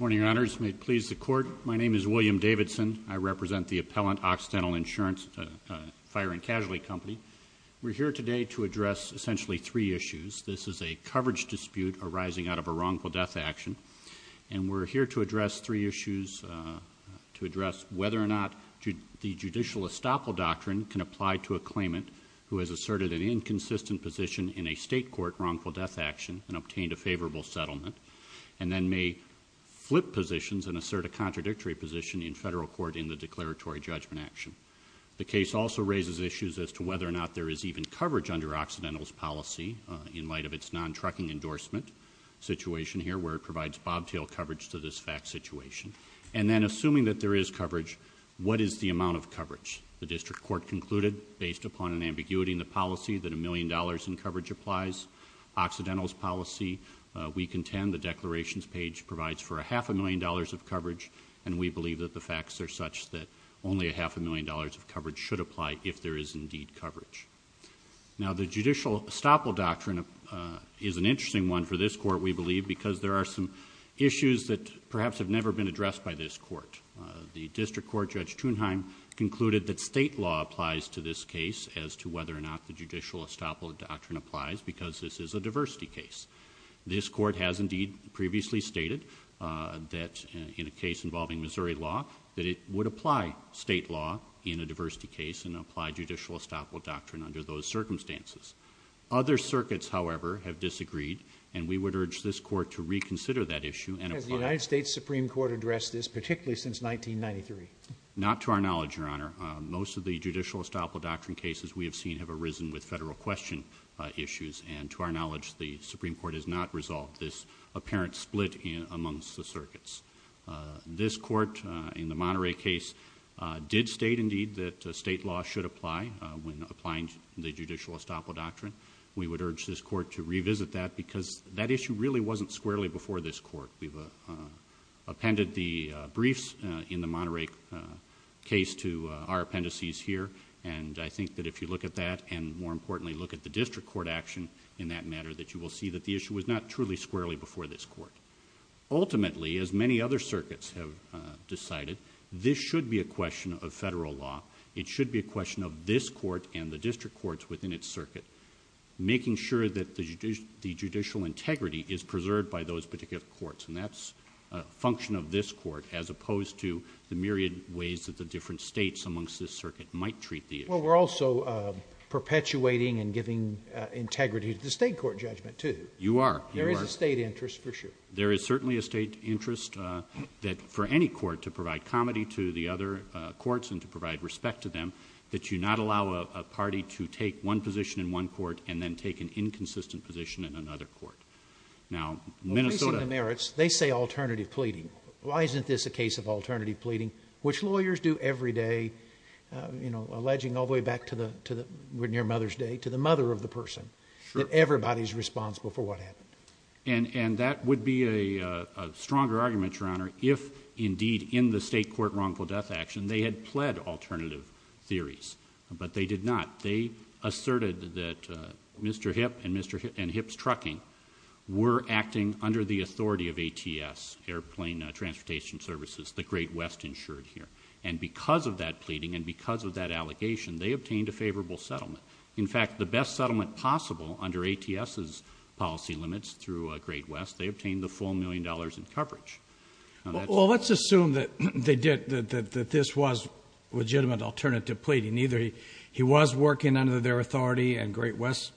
Morning, Your Honors. May it please the Court, my name is William Davidson. I represent the Appellant Occidental Insurance Fire & Casualty Company. We're here today to address essentially three issues. This is a coverage dispute arising out of a wrongful death action and we're here to address three issues to address whether or not the judicial estoppel doctrine can apply to a claimant who has asserted an inconsistent position in a state court wrongful death action and obtained a favorable settlement and then may flip positions and assert a contradictory position in federal court in the declaratory judgment action. The case also raises issues as to whether or not there is even coverage under Occidental's policy in light of its non-trucking endorsement situation here where it provides bobtail coverage to this fact situation and then assuming that there is coverage, what is the amount of coverage? The District Court concluded based upon an ambiguity in the policy that a million dollars in coverage applies. Occidental's policy, we contend the declarations page provides for a half a million dollars of coverage and we believe that the facts are such that only a half a million dollars of coverage should apply if there is indeed coverage. Now the judicial estoppel doctrine is an interesting one for this court, we believe, because there are some issues that perhaps have never been addressed by this court. The District Court Judge Thunheim concluded that state law applies to this case as to whether or not the judicial estoppel doctrine applies because this is a diversity case. This court has indeed previously stated that in a case involving Missouri law that it would apply state law in a diversity case and apply judicial estoppel doctrine under those circumstances. Other circuits however have disagreed and we would urge this court to reconsider that issue and apply... Has the United States Supreme Court addressed this particularly since 1993? Not to our knowledge, Your Honor. Most of the judicial estoppel doctrine cases we have seen have arisen with federal question issues and to our knowledge the Supreme Court has not resolved this apparent split amongst the circuits. This court in the Monterey case did state indeed that state law should apply when applying the judicial estoppel doctrine. We would urge this court to revisit that because that issue really wasn't squarely before this court. We've appended the briefs in the Monterey case to our appendices here and I think that if you look at that and more importantly look at the district court action in that matter that you will see that the issue was not truly squarely before this court. Ultimately as many other circuits have decided, this should be a question of federal law. It should be a question of this court and the district courts within its circuit making sure that the judicial integrity is preserved by those particular courts and that's a function of this court as opposed to the myriad ways that the different states amongst this circuit might treat the issue. Well, we're also perpetuating and giving integrity to the state court judgment too. You are. There is a state interest for sure. There is certainly a state interest that for any court to provide comity to the other courts and to provide respect to them that you not allow a party to take one position in one court and then take an inconsistent position in another court. Now, Minnesota... Well, facing the merits, they say alternative pleading. Why isn't this a case of alternative pleading? Well, we're back to near Mother's Day, to the mother of the person, that everybody's responsible for what happened. And that would be a stronger argument, Your Honor, if indeed in the state court wrongful death action they had pled alternative theories, but they did not. They asserted that Mr. Hipp and Hipp's Trucking were acting under the authority of ATS, Airplane Transportation Services, the Great West insured here. And because of that pleading and because of that allegation, they obtained a favorable settlement. In fact, the best settlement possible under ATS's policy limits through Great West, they obtained the full million dollars in coverage. Well, let's assume that they did, that this was legitimate alternative pleading. Either he was working under their authority and Great West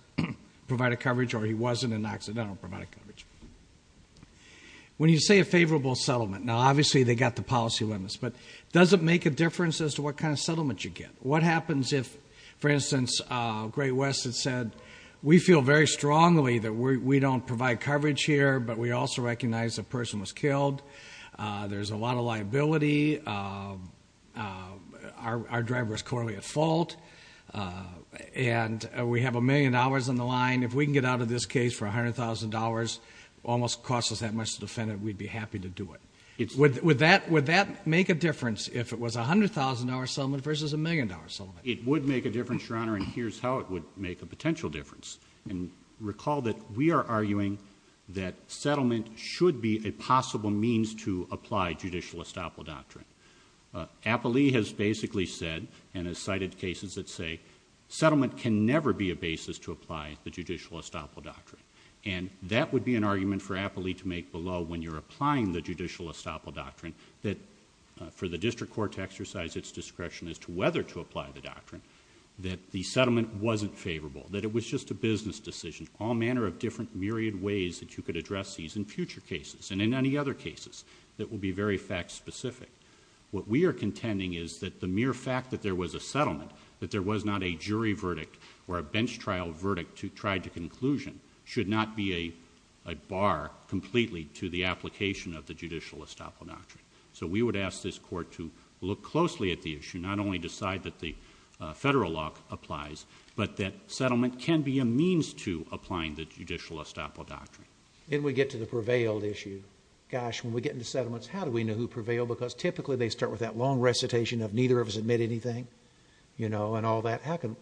provided coverage or he wasn't and accidentally provided coverage. When you say a favorable settlement, now obviously they got the policy limits, but does it make a difference as to what kind of settlement you get? What happens if, for instance, Great West had said, we feel very strongly that we don't provide coverage here, but we also recognize the person was killed, there's a lot of liability, our driver is currently at fault, and we have a million dollars on the line. If we can get out of this case for $100,000, almost cost us that much to defend it, we'd be happy to do it. Would that make a difference if it was a $100,000 settlement versus a million dollar settlement? It would make a difference, Your Honor, and here's how it would make a potential difference. Recall that we are arguing that settlement should be a possible means to apply judicial estoppel doctrine. Appley has basically said, and has cited cases that say, settlement can never be a basis to apply the judicial estoppel doctrine. And that would be an argument for the case below, when you're applying the judicial estoppel doctrine, that for the district court to exercise its discretion as to whether to apply the doctrine, that the settlement wasn't favorable, that it was just a business decision. All manner of different myriad ways that you could address these in future cases, and in any other cases, that will be very fact specific. What we are contending is that the mere fact that there was a settlement, that there was not a jury verdict or a bench trial verdict tried to conclusion, should not be a bar completely to the application of the judicial estoppel doctrine. So we would ask this court to look closely at the issue, not only decide that the federal law applies, but that settlement can be a means to applying the judicial estoppel doctrine. Then we get to the prevailed issue. Gosh, when we get into settlements, how do we know who prevailed? Because typically they start with that long recitation of neither of us admit anything, you know, and all that. How can,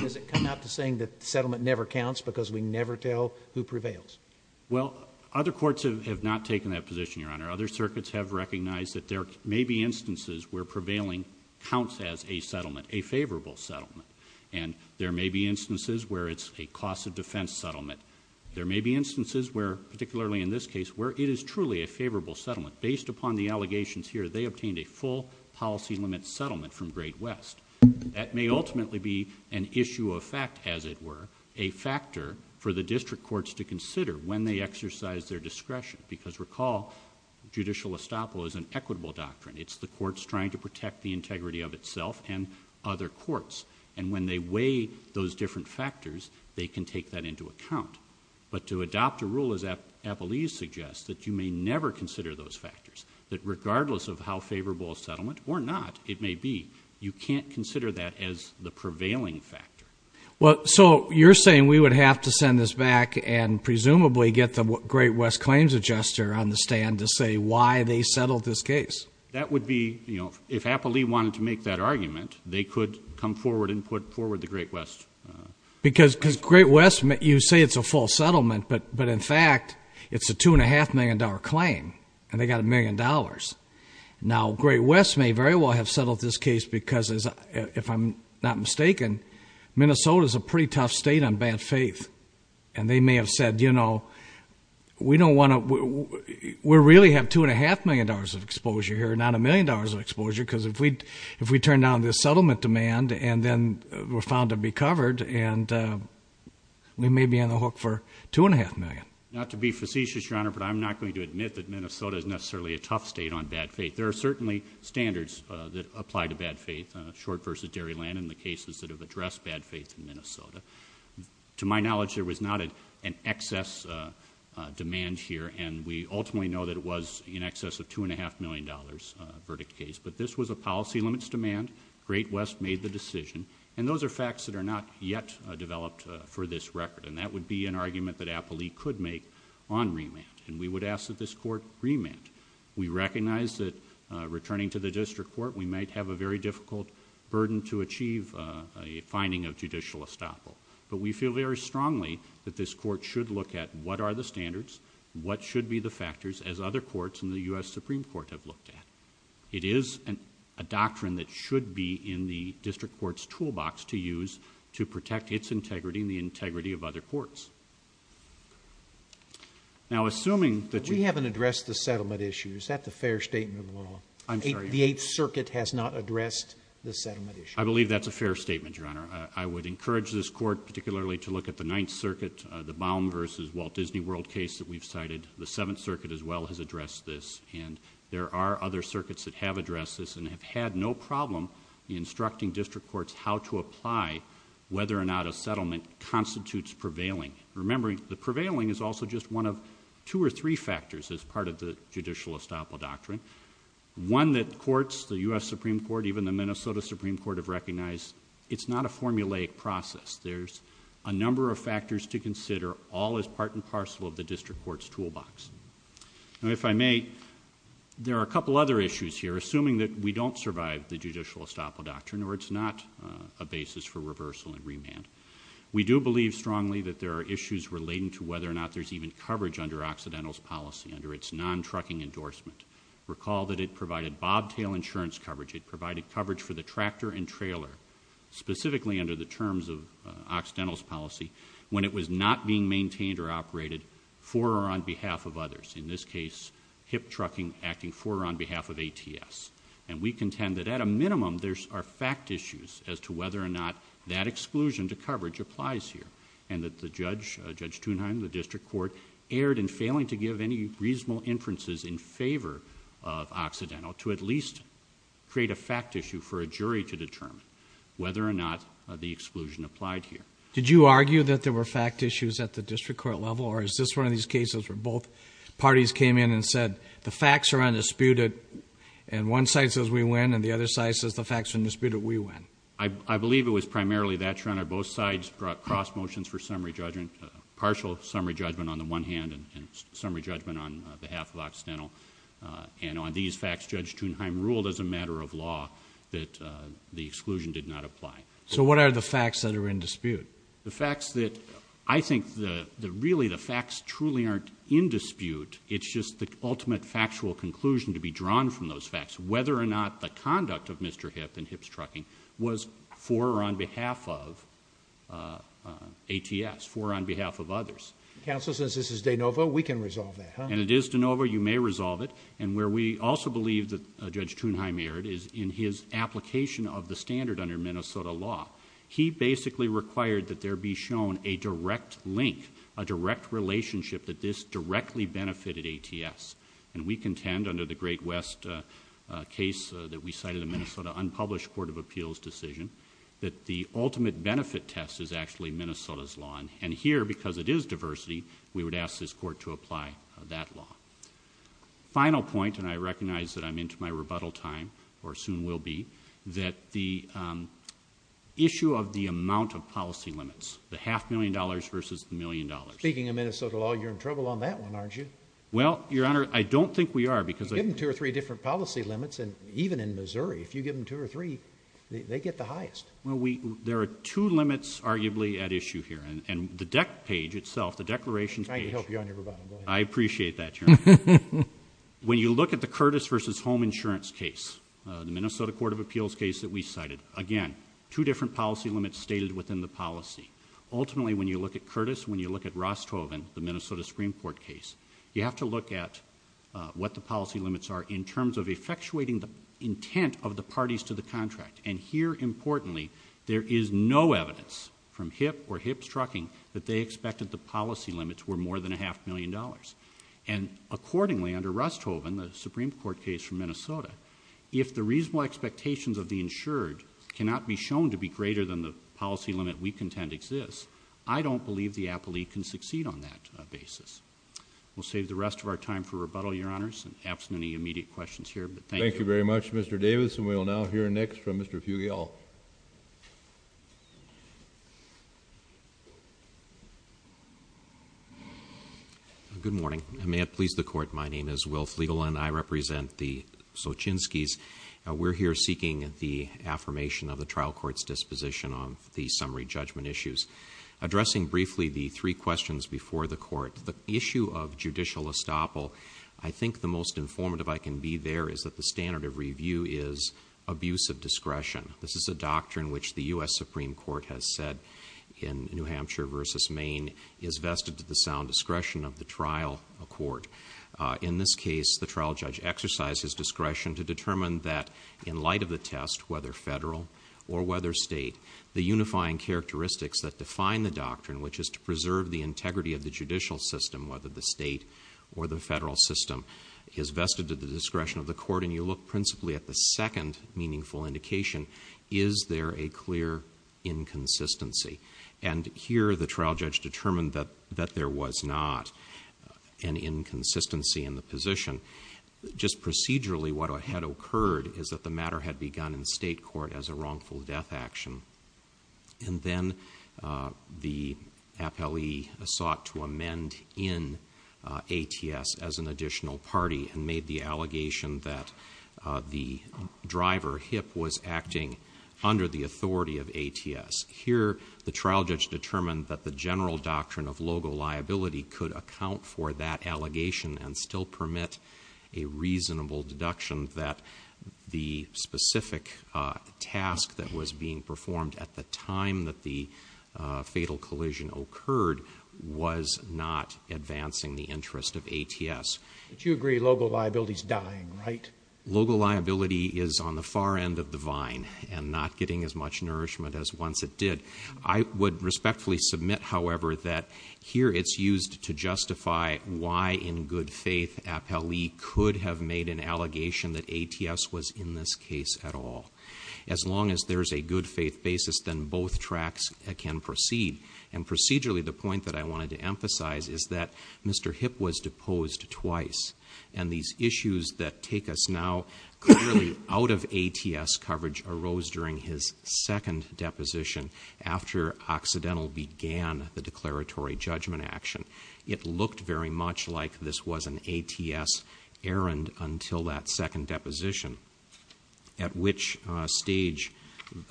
does it come out to saying that settlement never counts because we never tell who prevails? Well, other courts have not taken that position, Your Honor. Other circuits have recognized that there may be instances where prevailing counts as a settlement, a favorable settlement. And there may be instances where it's a cost of defense settlement. There may be instances where, particularly in this case, where it is truly a favorable settlement. Based upon the allegations here, they obtained a full policy limit settlement from Great West. That may ultimately be an issue of fact, as it were, a factor for the district courts to consider when they exercise their discretion. Because recall, judicial estoppel is an equitable doctrine. It's the courts trying to protect the integrity of itself and other courts. And when they weigh those different factors, they can take that into account. But to adopt a rule as Appelee suggests, that you may never consider those factors. That regardless of how favorable a settlement or not it may be, you can't consider that as the prevailing factor. Well, so you're saying we would have to send this back and presumably get the Great West Claims Adjuster on the stand to say why they settled this case. That would be, you know, if Appelee wanted to make that argument, they could come forward and put forward the Great West. Because Great West, you say it's a full settlement, but in fact, it's a two and a half million dollar claim. And they got a million dollars. Now, Great West may very well have settled this case because, if I'm not mistaken, Minnesota's a pretty tough state on bad faith. And they may have said, you know, we don't want to, we really have two and a half million dollars of exposure here, not a million dollars of exposure, because if we turn down this settlement demand and then we're found to be covered and we may be on the hook for two and a half million. Not to be facetious, Your Honor, but I'm not going to admit that Minnesota is necessarily a tough state on bad faith. There are certainly standards that apply to bad faith. Short versus Dairyland and the cases that have addressed bad faith in Minnesota. To my knowledge, there was not an excess demand here and we ultimately know that it was in excess of two and a half million dollars verdict case. But this was a policy limits demand. Great West made the decision. And those are facts that are not yet developed for this record. And that would be an argument that Appley could make on remand. And we would ask that this court remand. We recognize that returning to the district court, we might have a very difficult burden to achieve a finding of judicial estoppel. But we feel very strongly that this court should look at what are the standards, what should be the factors, as other courts in the U.S. Supreme Court have looked at. It is a doctrine that should be in the district court's toolbox to use to protect its integrity and the integrity of other courts. Now, assuming that you... We haven't addressed the settlement issue. Is that the fair statement of the law? I'm sorry, Your Honor. The Eighth Circuit has not addressed the settlement issue. I believe that's a fair statement, Your Honor. I would encourage this court particularly to look at the Ninth Circuit, the Baum versus Walt Disney World case that we've cited. The re are other circuits that have addressed this and have had no problem instructing district courts how to apply whether or not a settlement constitutes prevailing. Remember, the prevailing is also just one of two or three factors as part of the judicial estoppel doctrine. One that courts, the U.S. Supreme Court, even the Minnesota Supreme Court have recognized, it's not a formulaic process. There's a number of factors to consider. All is part and parcel of the district court's toolbox. Now, if I may, there are a couple other issues here. Assuming that we don't survive the judicial estoppel doctrine or it's not a basis for reversal and remand, we do believe strongly that there are issues relating to whether or not there's even coverage under Occidental's policy, under its non-trucking endorsement. Recall that it provided bobtail insurance coverage. It provided coverage for the tractor and trailer, specifically under the terms of Occidental's policy, when it was not being maintained or operated for or on behalf of others. In this case, hip trucking acting for or on behalf of ATS. And we contend that at a minimum, there are fact issues as to whether or not that exclusion to coverage applies here. And that Judge Thunheim, the district court, erred in failing to give any reasonable inferences in favor of Occidental to at least create a fact issue for a jury to determine whether or not the exclusion applied here. Did you argue that there were fact issues at the district court level or is this one of these cases where both parties came in and said, the facts are undisputed and one side says we win and the other side says the facts are undisputed, we win? I believe it was primarily that, Your Honor. Both sides brought cross motions for summary judgment, partial summary judgment on the one hand and summary judgment on behalf of the other. The exclusion did not apply. So what are the facts that are in dispute? The facts that, I think that really the facts truly aren't in dispute, it's just the ultimate factual conclusion to be drawn from those facts. Whether or not the conduct of Mr. Hip and Hip's trucking was for or on behalf of ATS, for or on behalf of others. Counsel, since this is de novo, we can resolve that, huh? And it is de novo, you may resolve it. And where we also believe that Judge Thunheim erred is in his application of the standard under Minnesota law. He basically required that there be shown a direct link, a direct relationship that this directly benefited ATS. And we contend under the Great West case that we cited in the Minnesota unpublished Court of Appeals decision, that the ultimate benefit test is actually Minnesota's law. And here, because it is diversity, we would ask this court to apply that law. Final point, and I recognize that I'm into my rebuttal time, or soon will be, that the issue of the amount of policy limits. The half million dollars versus the million dollars. Speaking of Minnesota law, you're in trouble on that one, aren't you? Well, Your Honor, I don't think we are, because I You give them two or three different policy limits, and even in Missouri, if you give them two or three, they get the highest. Well, we, there are two limits arguably at issue here. And the deck page itself, the declarations page I'm trying to help you on your rebuttal, go ahead. I appreciate that, Your Honor. When you look at the Curtis v. Home Insurance case, the Minnesota Court of Appeals case that we cited, again, two different policy limits stated within the policy. Ultimately, when you look at Curtis, when you look at Rosthoven, the Minnesota Supreme Court case, you have to look at what the policy limits are in terms of effectuating the intent of the parties to the contract. And here, importantly, there is no evidence from HIP or HIP's trucking that they expected the policy limits were more than a half million dollars. And accordingly, under Rosthoven, the Supreme Court case from Minnesota, if the reasonable expectations of the insured cannot be shown to be greater than the policy limit we contend exists, I don't believe the applique can succeed on that basis. We'll save the rest of our time for rebuttal, Your Honors, and absent any immediate questions here, but thank you. Thank you very much, Mr. Davis, and we will now hear next from Mr. Fugayall. Good morning. May it please the Court, my name is Wilf Legal, and I represent the Sochinskis. We're here seeking the affirmation of the trial court's disposition on the summary judgment issues. Addressing briefly the three questions before the Court, the issue of judicial estoppel, I think the most informative I can be there is that the standard of review is abuse of discretion. This is a doctrine which the U.S. Supreme Court has said in New Hampshire versus Maine is vested to the sound discretion of the trial court. In this case, the trial judge exercised his discretion to determine that, in light of the test, whether federal or whether state, the unifying characteristics that define the doctrine, which is to preserve the integrity of the judicial system, whether the state or the federal system, is vested to the discretion of the court, and you look principally at the second meaningful indication, is there a clear inconsistency? And here, the trial judge determined that there was not an inconsistency in the position. Just procedurally, what had occurred is that the matter had begun in state legal death action, and then the appellee sought to amend in ATS as an additional party and made the allegation that the driver, HIP, was acting under the authority of ATS. Here, the trial judge determined that the general doctrine of logo liability could account for that allegation and still permit a reasonable deduction that the specific task that was being performed at the time that the fatal collision occurred was not advancing the interest of ATS. But you agree logo liability is dying, right? Logo liability is on the far end of the vine and not getting as much nourishment as once it did. I would respectfully submit, however, that here it's used to justify why, in good faith, appellee could have made an allegation that ATS was in this case at all. As long as there's a good faith basis, then both tracks can proceed. And procedurally, the point that I wanted to emphasize is that Mr. HIP was deposed twice, and these issues that take us now clearly out of ATS coverage arose during his second deposition after Occidental began the declaratory judgment action. It looked very much like this was an ATS errand until that second deposition, at which stage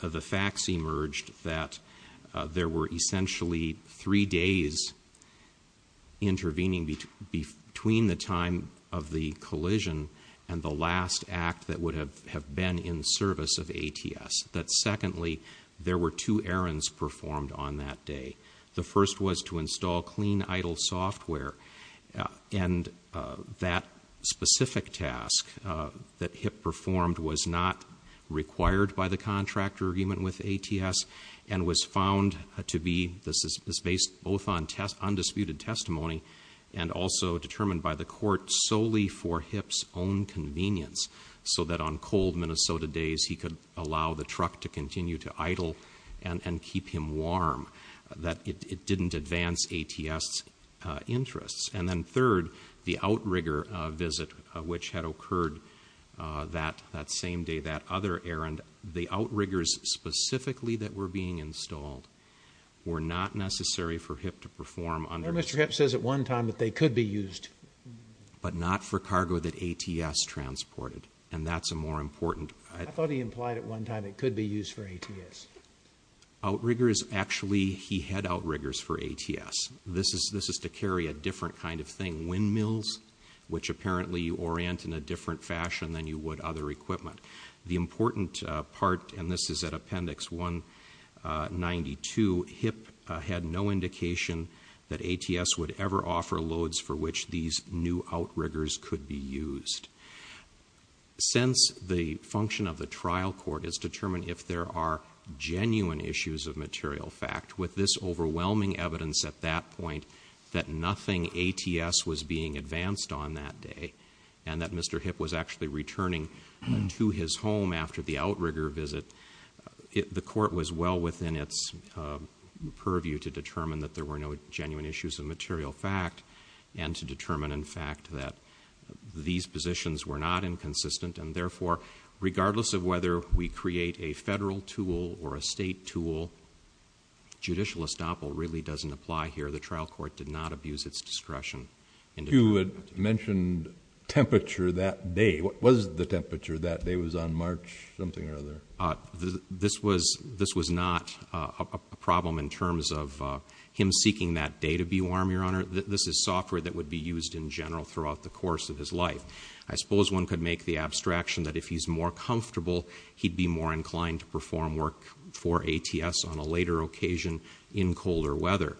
the facts emerged that there were essentially three days intervening between the time of the collision and the last act that would have been in service of ATS. That secondly, there were two errands performed on that day. The first was to install clean idle software, and that specific task that HIP performed was not required by the contract agreement with ATS and was found to be, this is based both on undisputed testimony and also determined by the court solely for HIP's own convenience, so that on cold Minnesota days he could allow the truck to continue to idle and keep him warm. That it didn't advance ATS' interests. And then third, the outrigger visit which had occurred that same day, that other errand, the outriggers specifically that were being installed were not necessary for HIP to perform under Mr. HIP says at one time that they could be used, but not for cargo that ATS transported. And that's a more important I thought he implied at one time it could be used for ATS. Outriggers actually he had outriggers for ATS. This is to carry a different kind of thing, windmills, which apparently you orient in a different fashion than you would other equipment. The important part, and this is at appendix 192, HIP had no indication that ATS would ever offer loads for which these new outriggers could be used. Since the function of the trial court is to determine if there are genuine issues of material fact, with this overwhelming evidence at that point that nothing ATS was being advanced on that day and that Mr. HIP was actually returning to his home after the outrigger visit, the court was well within its purview to determine that there were no genuine issues of material fact and to determine in fact that these positions were not inconsistent and therefore regardless of whether we create a federal tool or a state tool, judicial estoppel really doesn't apply here. The trial court did not abuse its discretion. You had mentioned temperature that day. What was the temperature that day? It was on March something or other? This was not a problem in terms of him seeking that day to be warm, Your Honor. This is software that would be used in general throughout the course of his life. I suppose one could make the abstraction that if he's more comfortable, he'd be more inclined to perform work for ATS on a later occasion in colder weather.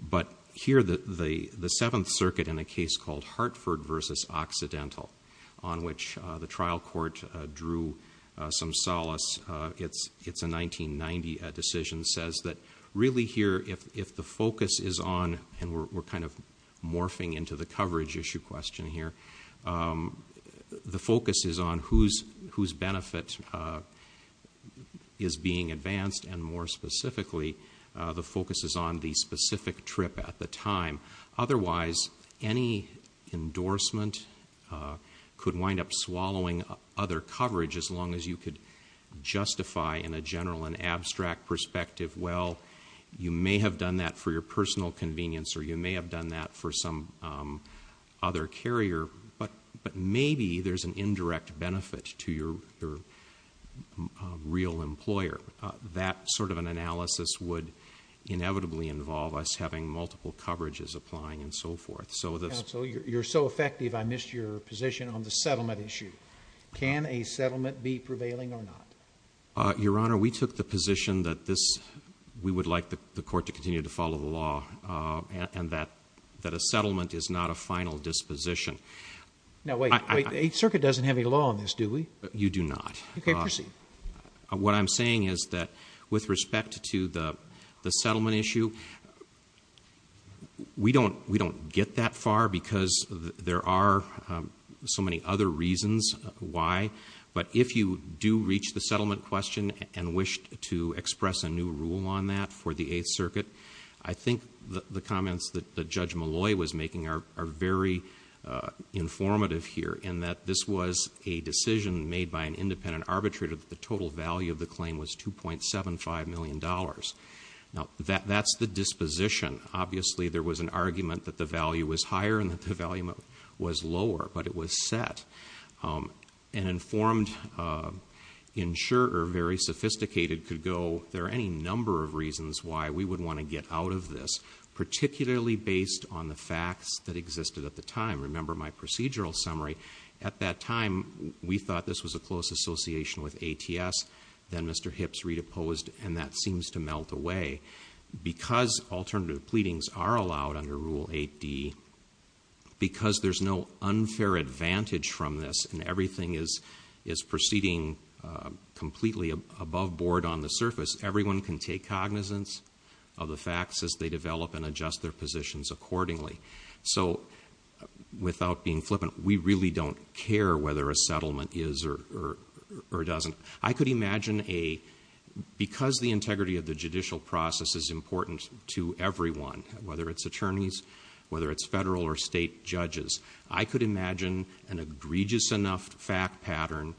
But here the Seventh Circuit in a case called Hartford v. Occidental on which the trial court drew some solace, it's a 1990 decision says that really here if the focus is on, and we're kind of morphing into the coverage issue question here, the focus is on whose benefit is being advanced and more specifically the focus is on the specific trip at the time. Otherwise, any endorsement could wind up swallowing other coverage as long as you could justify in a general and abstract perspective, well, you may have done that for your personal convenience or you may have done that for some other carrier, but maybe there's an indirect benefit to your real employer. That sort of an analysis would inevitably involve us having multiple coverages applying and so forth. Counsel, you're so effective I missed your position on the settlement issue. Can a settlement be prevailing or not? Your Honor, we took the position that we would like the court to continue to follow the law and that a settlement is not a final disposition. Now wait, the Eighth Circuit doesn't have any law on this, do we? You do not. What I'm saying is that with respect to the settlement issue, we don't get that far because there are so many other reasons why, but if you do reach the settlement question and wish to express a new rule on that for the Eighth Circuit, I think the comments that Judge Malloy was making are very informative here in that this was a decision made by an independent arbitrator that the total value of the claim was $2.75 million. Now that's the disposition. Obviously there was an argument that the value was higher and that the value was lower, but it was set. An informed insurer, very sophisticated, could go, there are any number of reasons why we would want to get out of this, particularly based on the facts that existed at the time. Remember my procedural summary. At that time, we thought this was a close association with the settlement. I could imagine a, because the integrity of the judicial process is important to everyone, whether it's attorneys, whether it's federal or state judges, I could imagine an egregious enough fact pattern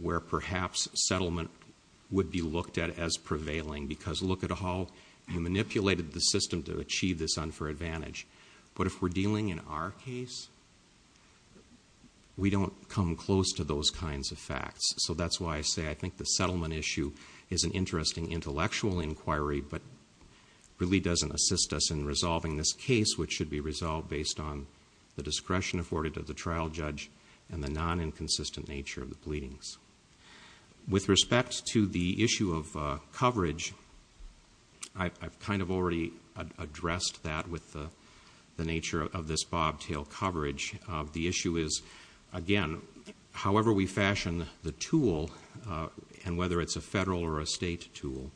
where perhaps settlement would be looked at as prevailing because look at how you manipulated the system to achieve this unfair advantage. But if we're dealing in our case, we don't come close to those kinds of facts. So that's why I say I think the settlement issue is an interesting intellectual inquiry, but really doesn't assist us in resolving this case, which should be resolved based on the discretion afforded of the trial judge and the non-inconsistent nature of the pleadings. With respect to the issue of coverage, I've kind of already addressed that with the nature of this bobtail coverage. The issue is, again, however we fashion the tool, and whether it's a federal or a state tool,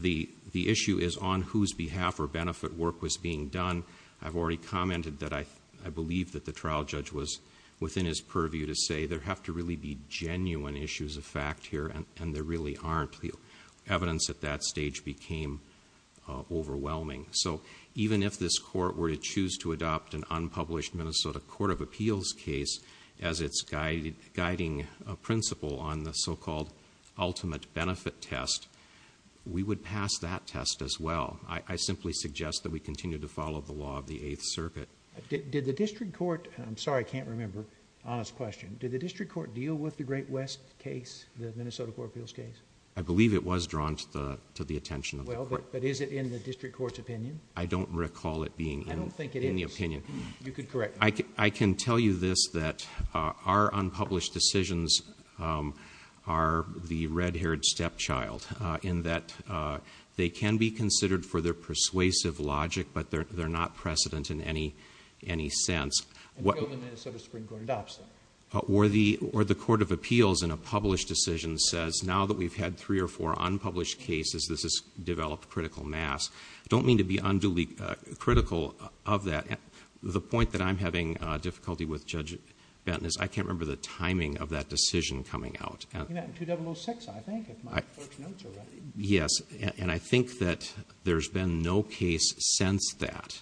the issue is on whose behalf or benefit work was being done. I've already commented that I believe that the trial judge was within his purview to say there have to really be genuine issues of fact here, and there really aren't. The issue is, if we were to choose to adopt an unpublished Minnesota Court of Appeals case as its guiding principle on the so-called ultimate benefit test, we would pass that test as well. I simply suggest that we continue to follow the law of the Eighth Circuit. Did the district court, and I'm sorry I can't remember, honest question, did the district court deal with the Great West case, the Minnesota Court of Appeals case? I believe it was drawn to the attention of the court. Well, but is it in the district court's opinion? I don't recall it being in... I don't think it is... in the opinion. You could correct me. I can tell you this, that our unpublished decisions are the red-haired stepchild, in that they can be considered for their persuasive logic, but they're not precedent in any sense. The Minnesota Supreme Court adopts them. Or the Court of Appeals, in a published decision, says now that we've had three or four unpublished cases, this has developed critical mass. I don't mean to be unduly critical of that. The point that I'm having difficulty with, Judge Benton, is I can't remember the timing of that decision coming out. In 2006, I think, if my first notes are right. Yes, and I think that there's been no case since that.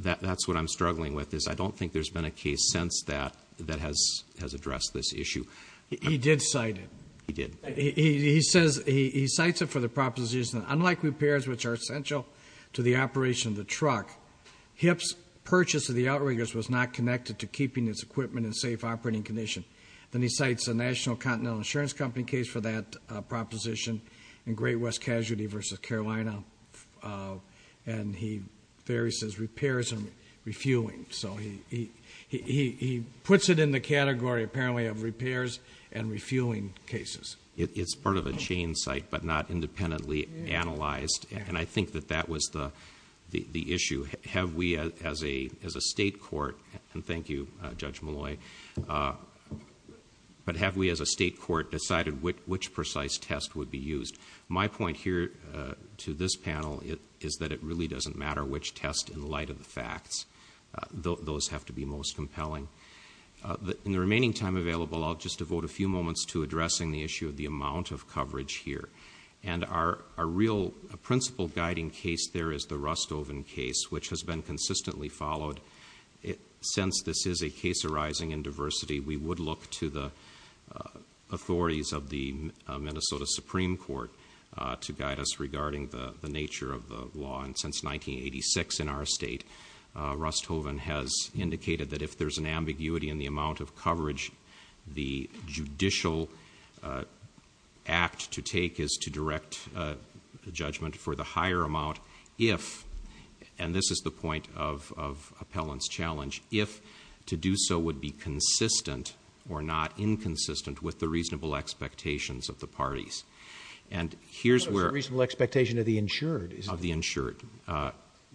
That's what I'm struggling with, is I don't think there's been a case since that that has addressed this issue. He did cite it. He did. He says, he cites it for the proposition, unlike repairs, which are essential to the operation of the truck, HIP's purchase of the outriggers was not connected to keeping its equipment in safe operating condition. Then he cites a National Continental Insurance Company case for that proposition, in Great West Casualty versus Carolina. And there he says, repairs and refueling. He puts it in the category, apparently, of repairs and refueling cases. It's part of a chain site, but not independently analyzed. I think that that was the issue. Have we, as a state court, and thank you, Judge Malloy, but have we as a state court decided which precise test would be used? My point here, to this panel, is that it really doesn't matter which test, in light of the facts, those have to be most compelling. In the remaining time available, I'll just devote a few moments to addressing the issue of the amount of coverage here. And our real principle guiding case there is the Rust-Oven case, which has been consistently followed. Since this is a case arising in diversity, we would look to the authorities of the Minnesota Supreme Court to guide us regarding the nature of the law. And since 1986 in our state, Rust-Oven has indicated that if there's an ambiguity in the amount of coverage, the judicial act to take is to direct the judgment for the higher amount if, and this is the point of appellant's challenge, if to do so would be consistent or not inconsistent with the reasonable expectations of the parties. And here's where- What is the reasonable expectation of the insured? Of the insured,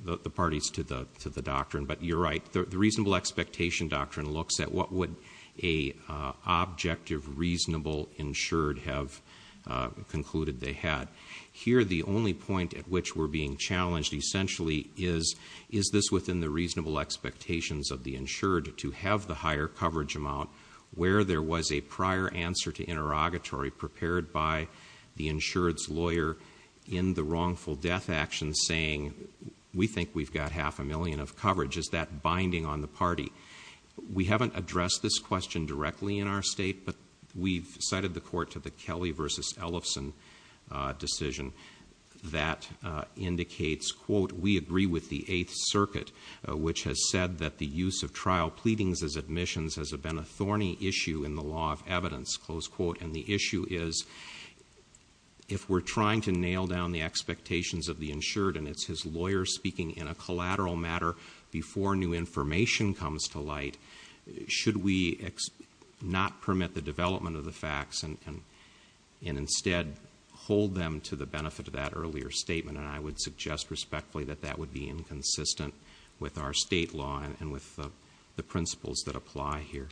the parties to the doctrine. But you're right. The reasonable expectation doctrine looks at what would an objective reasonable insured have concluded they had. Here the only point at which we're being challenged essentially is, is this within the reasonable expectations of the insured to have the higher coverage amount where there was a prior answer to interrogatory prepared by the insured's lawyer in the wrongful death action saying, we think we've got half a million of coverage. Is that binding on the party? We haven't addressed this question directly in our state, but we've cited the court to the Kelly versus Ellefson decision that indicates, quote, we agree with the Eighth Circuit, which has said that the use of trial pleadings as admissions has been a thorny issue in the law of evidence. Close quote. And the issue is, if we're trying to nail down the expectations of the insured and it's his lawyer speaking in a collateral matter before new information comes to light, should we not permit the development of the facts and instead hold them to the benefit of that earlier statement? And I would suggest respectfully that that would be inconsistent with our state law and with the principles that apply here.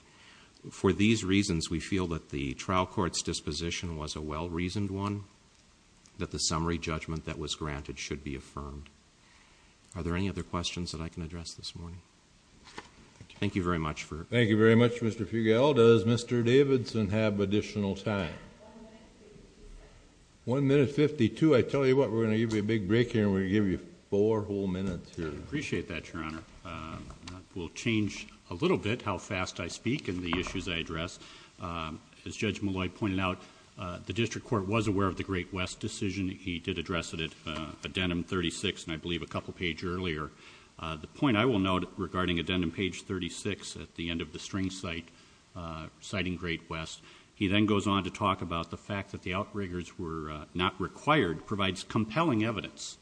For these reasons, we feel that the trial court's disposition was a well-reasoned one, that the summary judgment that was granted should be affirmed. Are there any other questions that I can address this morning? Thank you very much for... Thank you very much, Mr. Fugel. Does Mr. Davidson have additional time? One minute fifty-two. I tell you what, we're going to give you a big break here and we're going to give you four whole minutes here. Appreciate that, Your Honor. I will change a little bit how fast I speak and the issues I address. As Judge Malloy pointed out, the district court was aware of the Great West decision. He did address it at addendum 36 and I believe a couple pages earlier. The point I will note regarding addendum page 36 at the end of the string cite, citing Great West, he then goes on to talk about the fact that the outriggers were not required provides compelling evidence.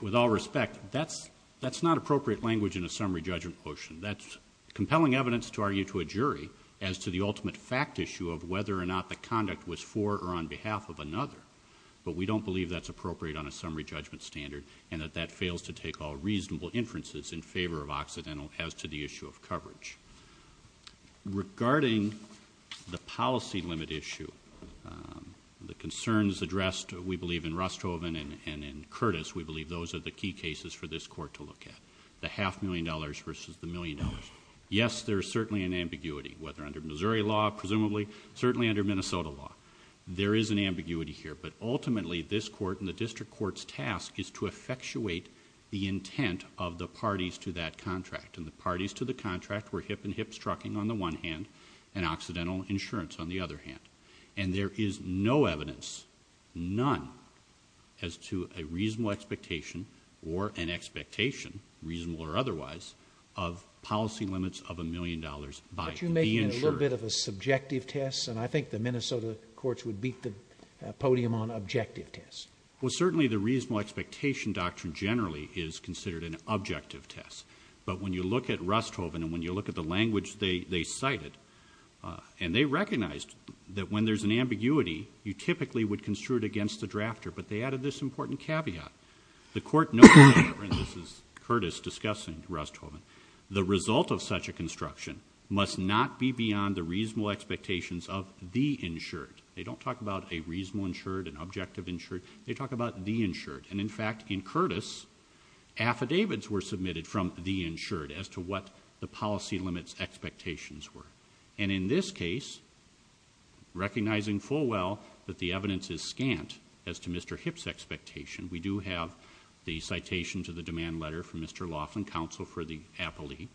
With all respect, that's not appropriate language in a summary judgment motion. That's compelling evidence to argue to a jury as to the ultimate fact issue of whether or not the conduct was for or on behalf of another, but we don't believe that's appropriate on a summary judgment standard and that that fails to take all reasonable inferences in favor of Occidental as to the issue of coverage. Regarding the policy limit issue, the concerns addressed, we believe, in Rusthoven and in Curtis, we believe those are the key cases for this court to look at, the half million dollars versus the million dollars. Yes, there is certainly an ambiguity, whether under Missouri law, presumably, certainly under Minnesota law. There is an ambiguity here, but ultimately this court and the district court's task is to effectuate the intent of the parties to that contract and the parties to the contract were hip and hips trucking on the one hand and Occidental insurance on the other hand. And there is no evidence, none, as to a reasonable expectation or an expectation, reasonable or otherwise, of policy limits of a million dollars by the insurer. But you're making a little bit of a subjective test and I think the Minnesota courts would beat the podium on objective tests. Well, certainly the reasonable expectation doctrine generally is considered an objective test. But when you look at Rusthoven and when you look at the language they cited and they recognized that when there's an ambiguity, you typically would construe it against the drafter. But they added this important caveat. The court noted, and this is Curtis discussing Rusthoven, the result of such a construction must not be beyond the reasonable expectations of the insured. They don't talk about a reasonable insured, an objective insured, they talk about the insured. And in fact, in Curtis, affidavits were submitted from the insured as to what the policy limits expectations were. And in this case, recognizing full well that the evidence is scant as to Mr. Hip's expectation, we do have the citation to the demand letter from Mr. Laughlin, counsel for the appellee,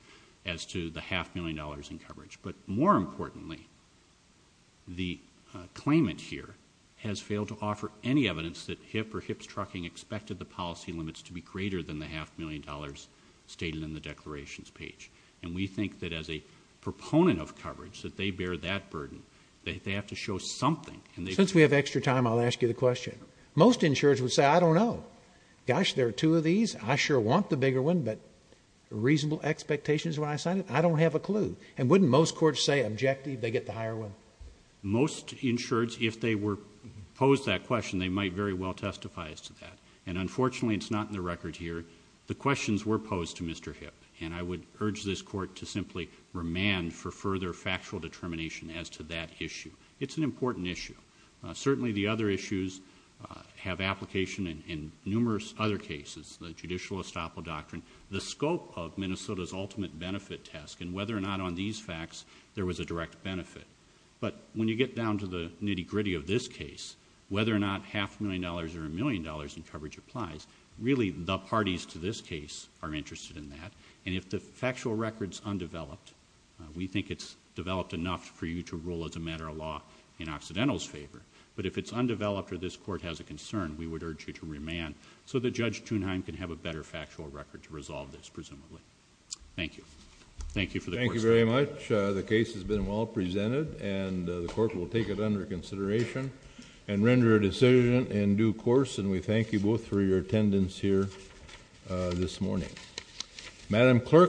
as to the half million dollars in coverage. But more importantly, the claimant here has failed to offer any evidence that hip or hips trucking expected the policy limits to be greater than the half million dollars stated in the declarations page. And we think that as a proponent of coverage, that they bear that burden, that they have to show something. Since we have extra time, I'll ask you the question. Most insureds would say, I don't know, gosh, there are two of these, I sure want the bigger one, but reasonable expectations when I sign it, I don't have a clue. And wouldn't most courts say objective, they get the higher one? Most insureds, if they were posed that question, they might very well testify as to that. And unfortunately, it's not in the record here. The questions were posed to Mr. Hip, and I would urge this court to simply remand for further factual determination as to that issue. It's an important issue. Certainly the other issues have application in numerous other cases, the judicial estoppel doctrine, the scope of Minnesota's ultimate benefit task, and whether or not on these But when you get down to the nitty-gritty of this case, whether or not half a million dollars or a million dollars in coverage applies, really the parties to this case are interested in that. And if the factual record's undeveloped, we think it's developed enough for you to rule as a matter of law in Occidental's favor. But if it's undeveloped or this court has a concern, we would urge you to remand so that Judge Thunheim can have a better factual record to resolve this, presumably. Thank you. Thank you for the court's time. Thank you very much. The case has been well presented, and the court will take it under consideration and render a decision in due course, and we thank you both for your attendance here this morning.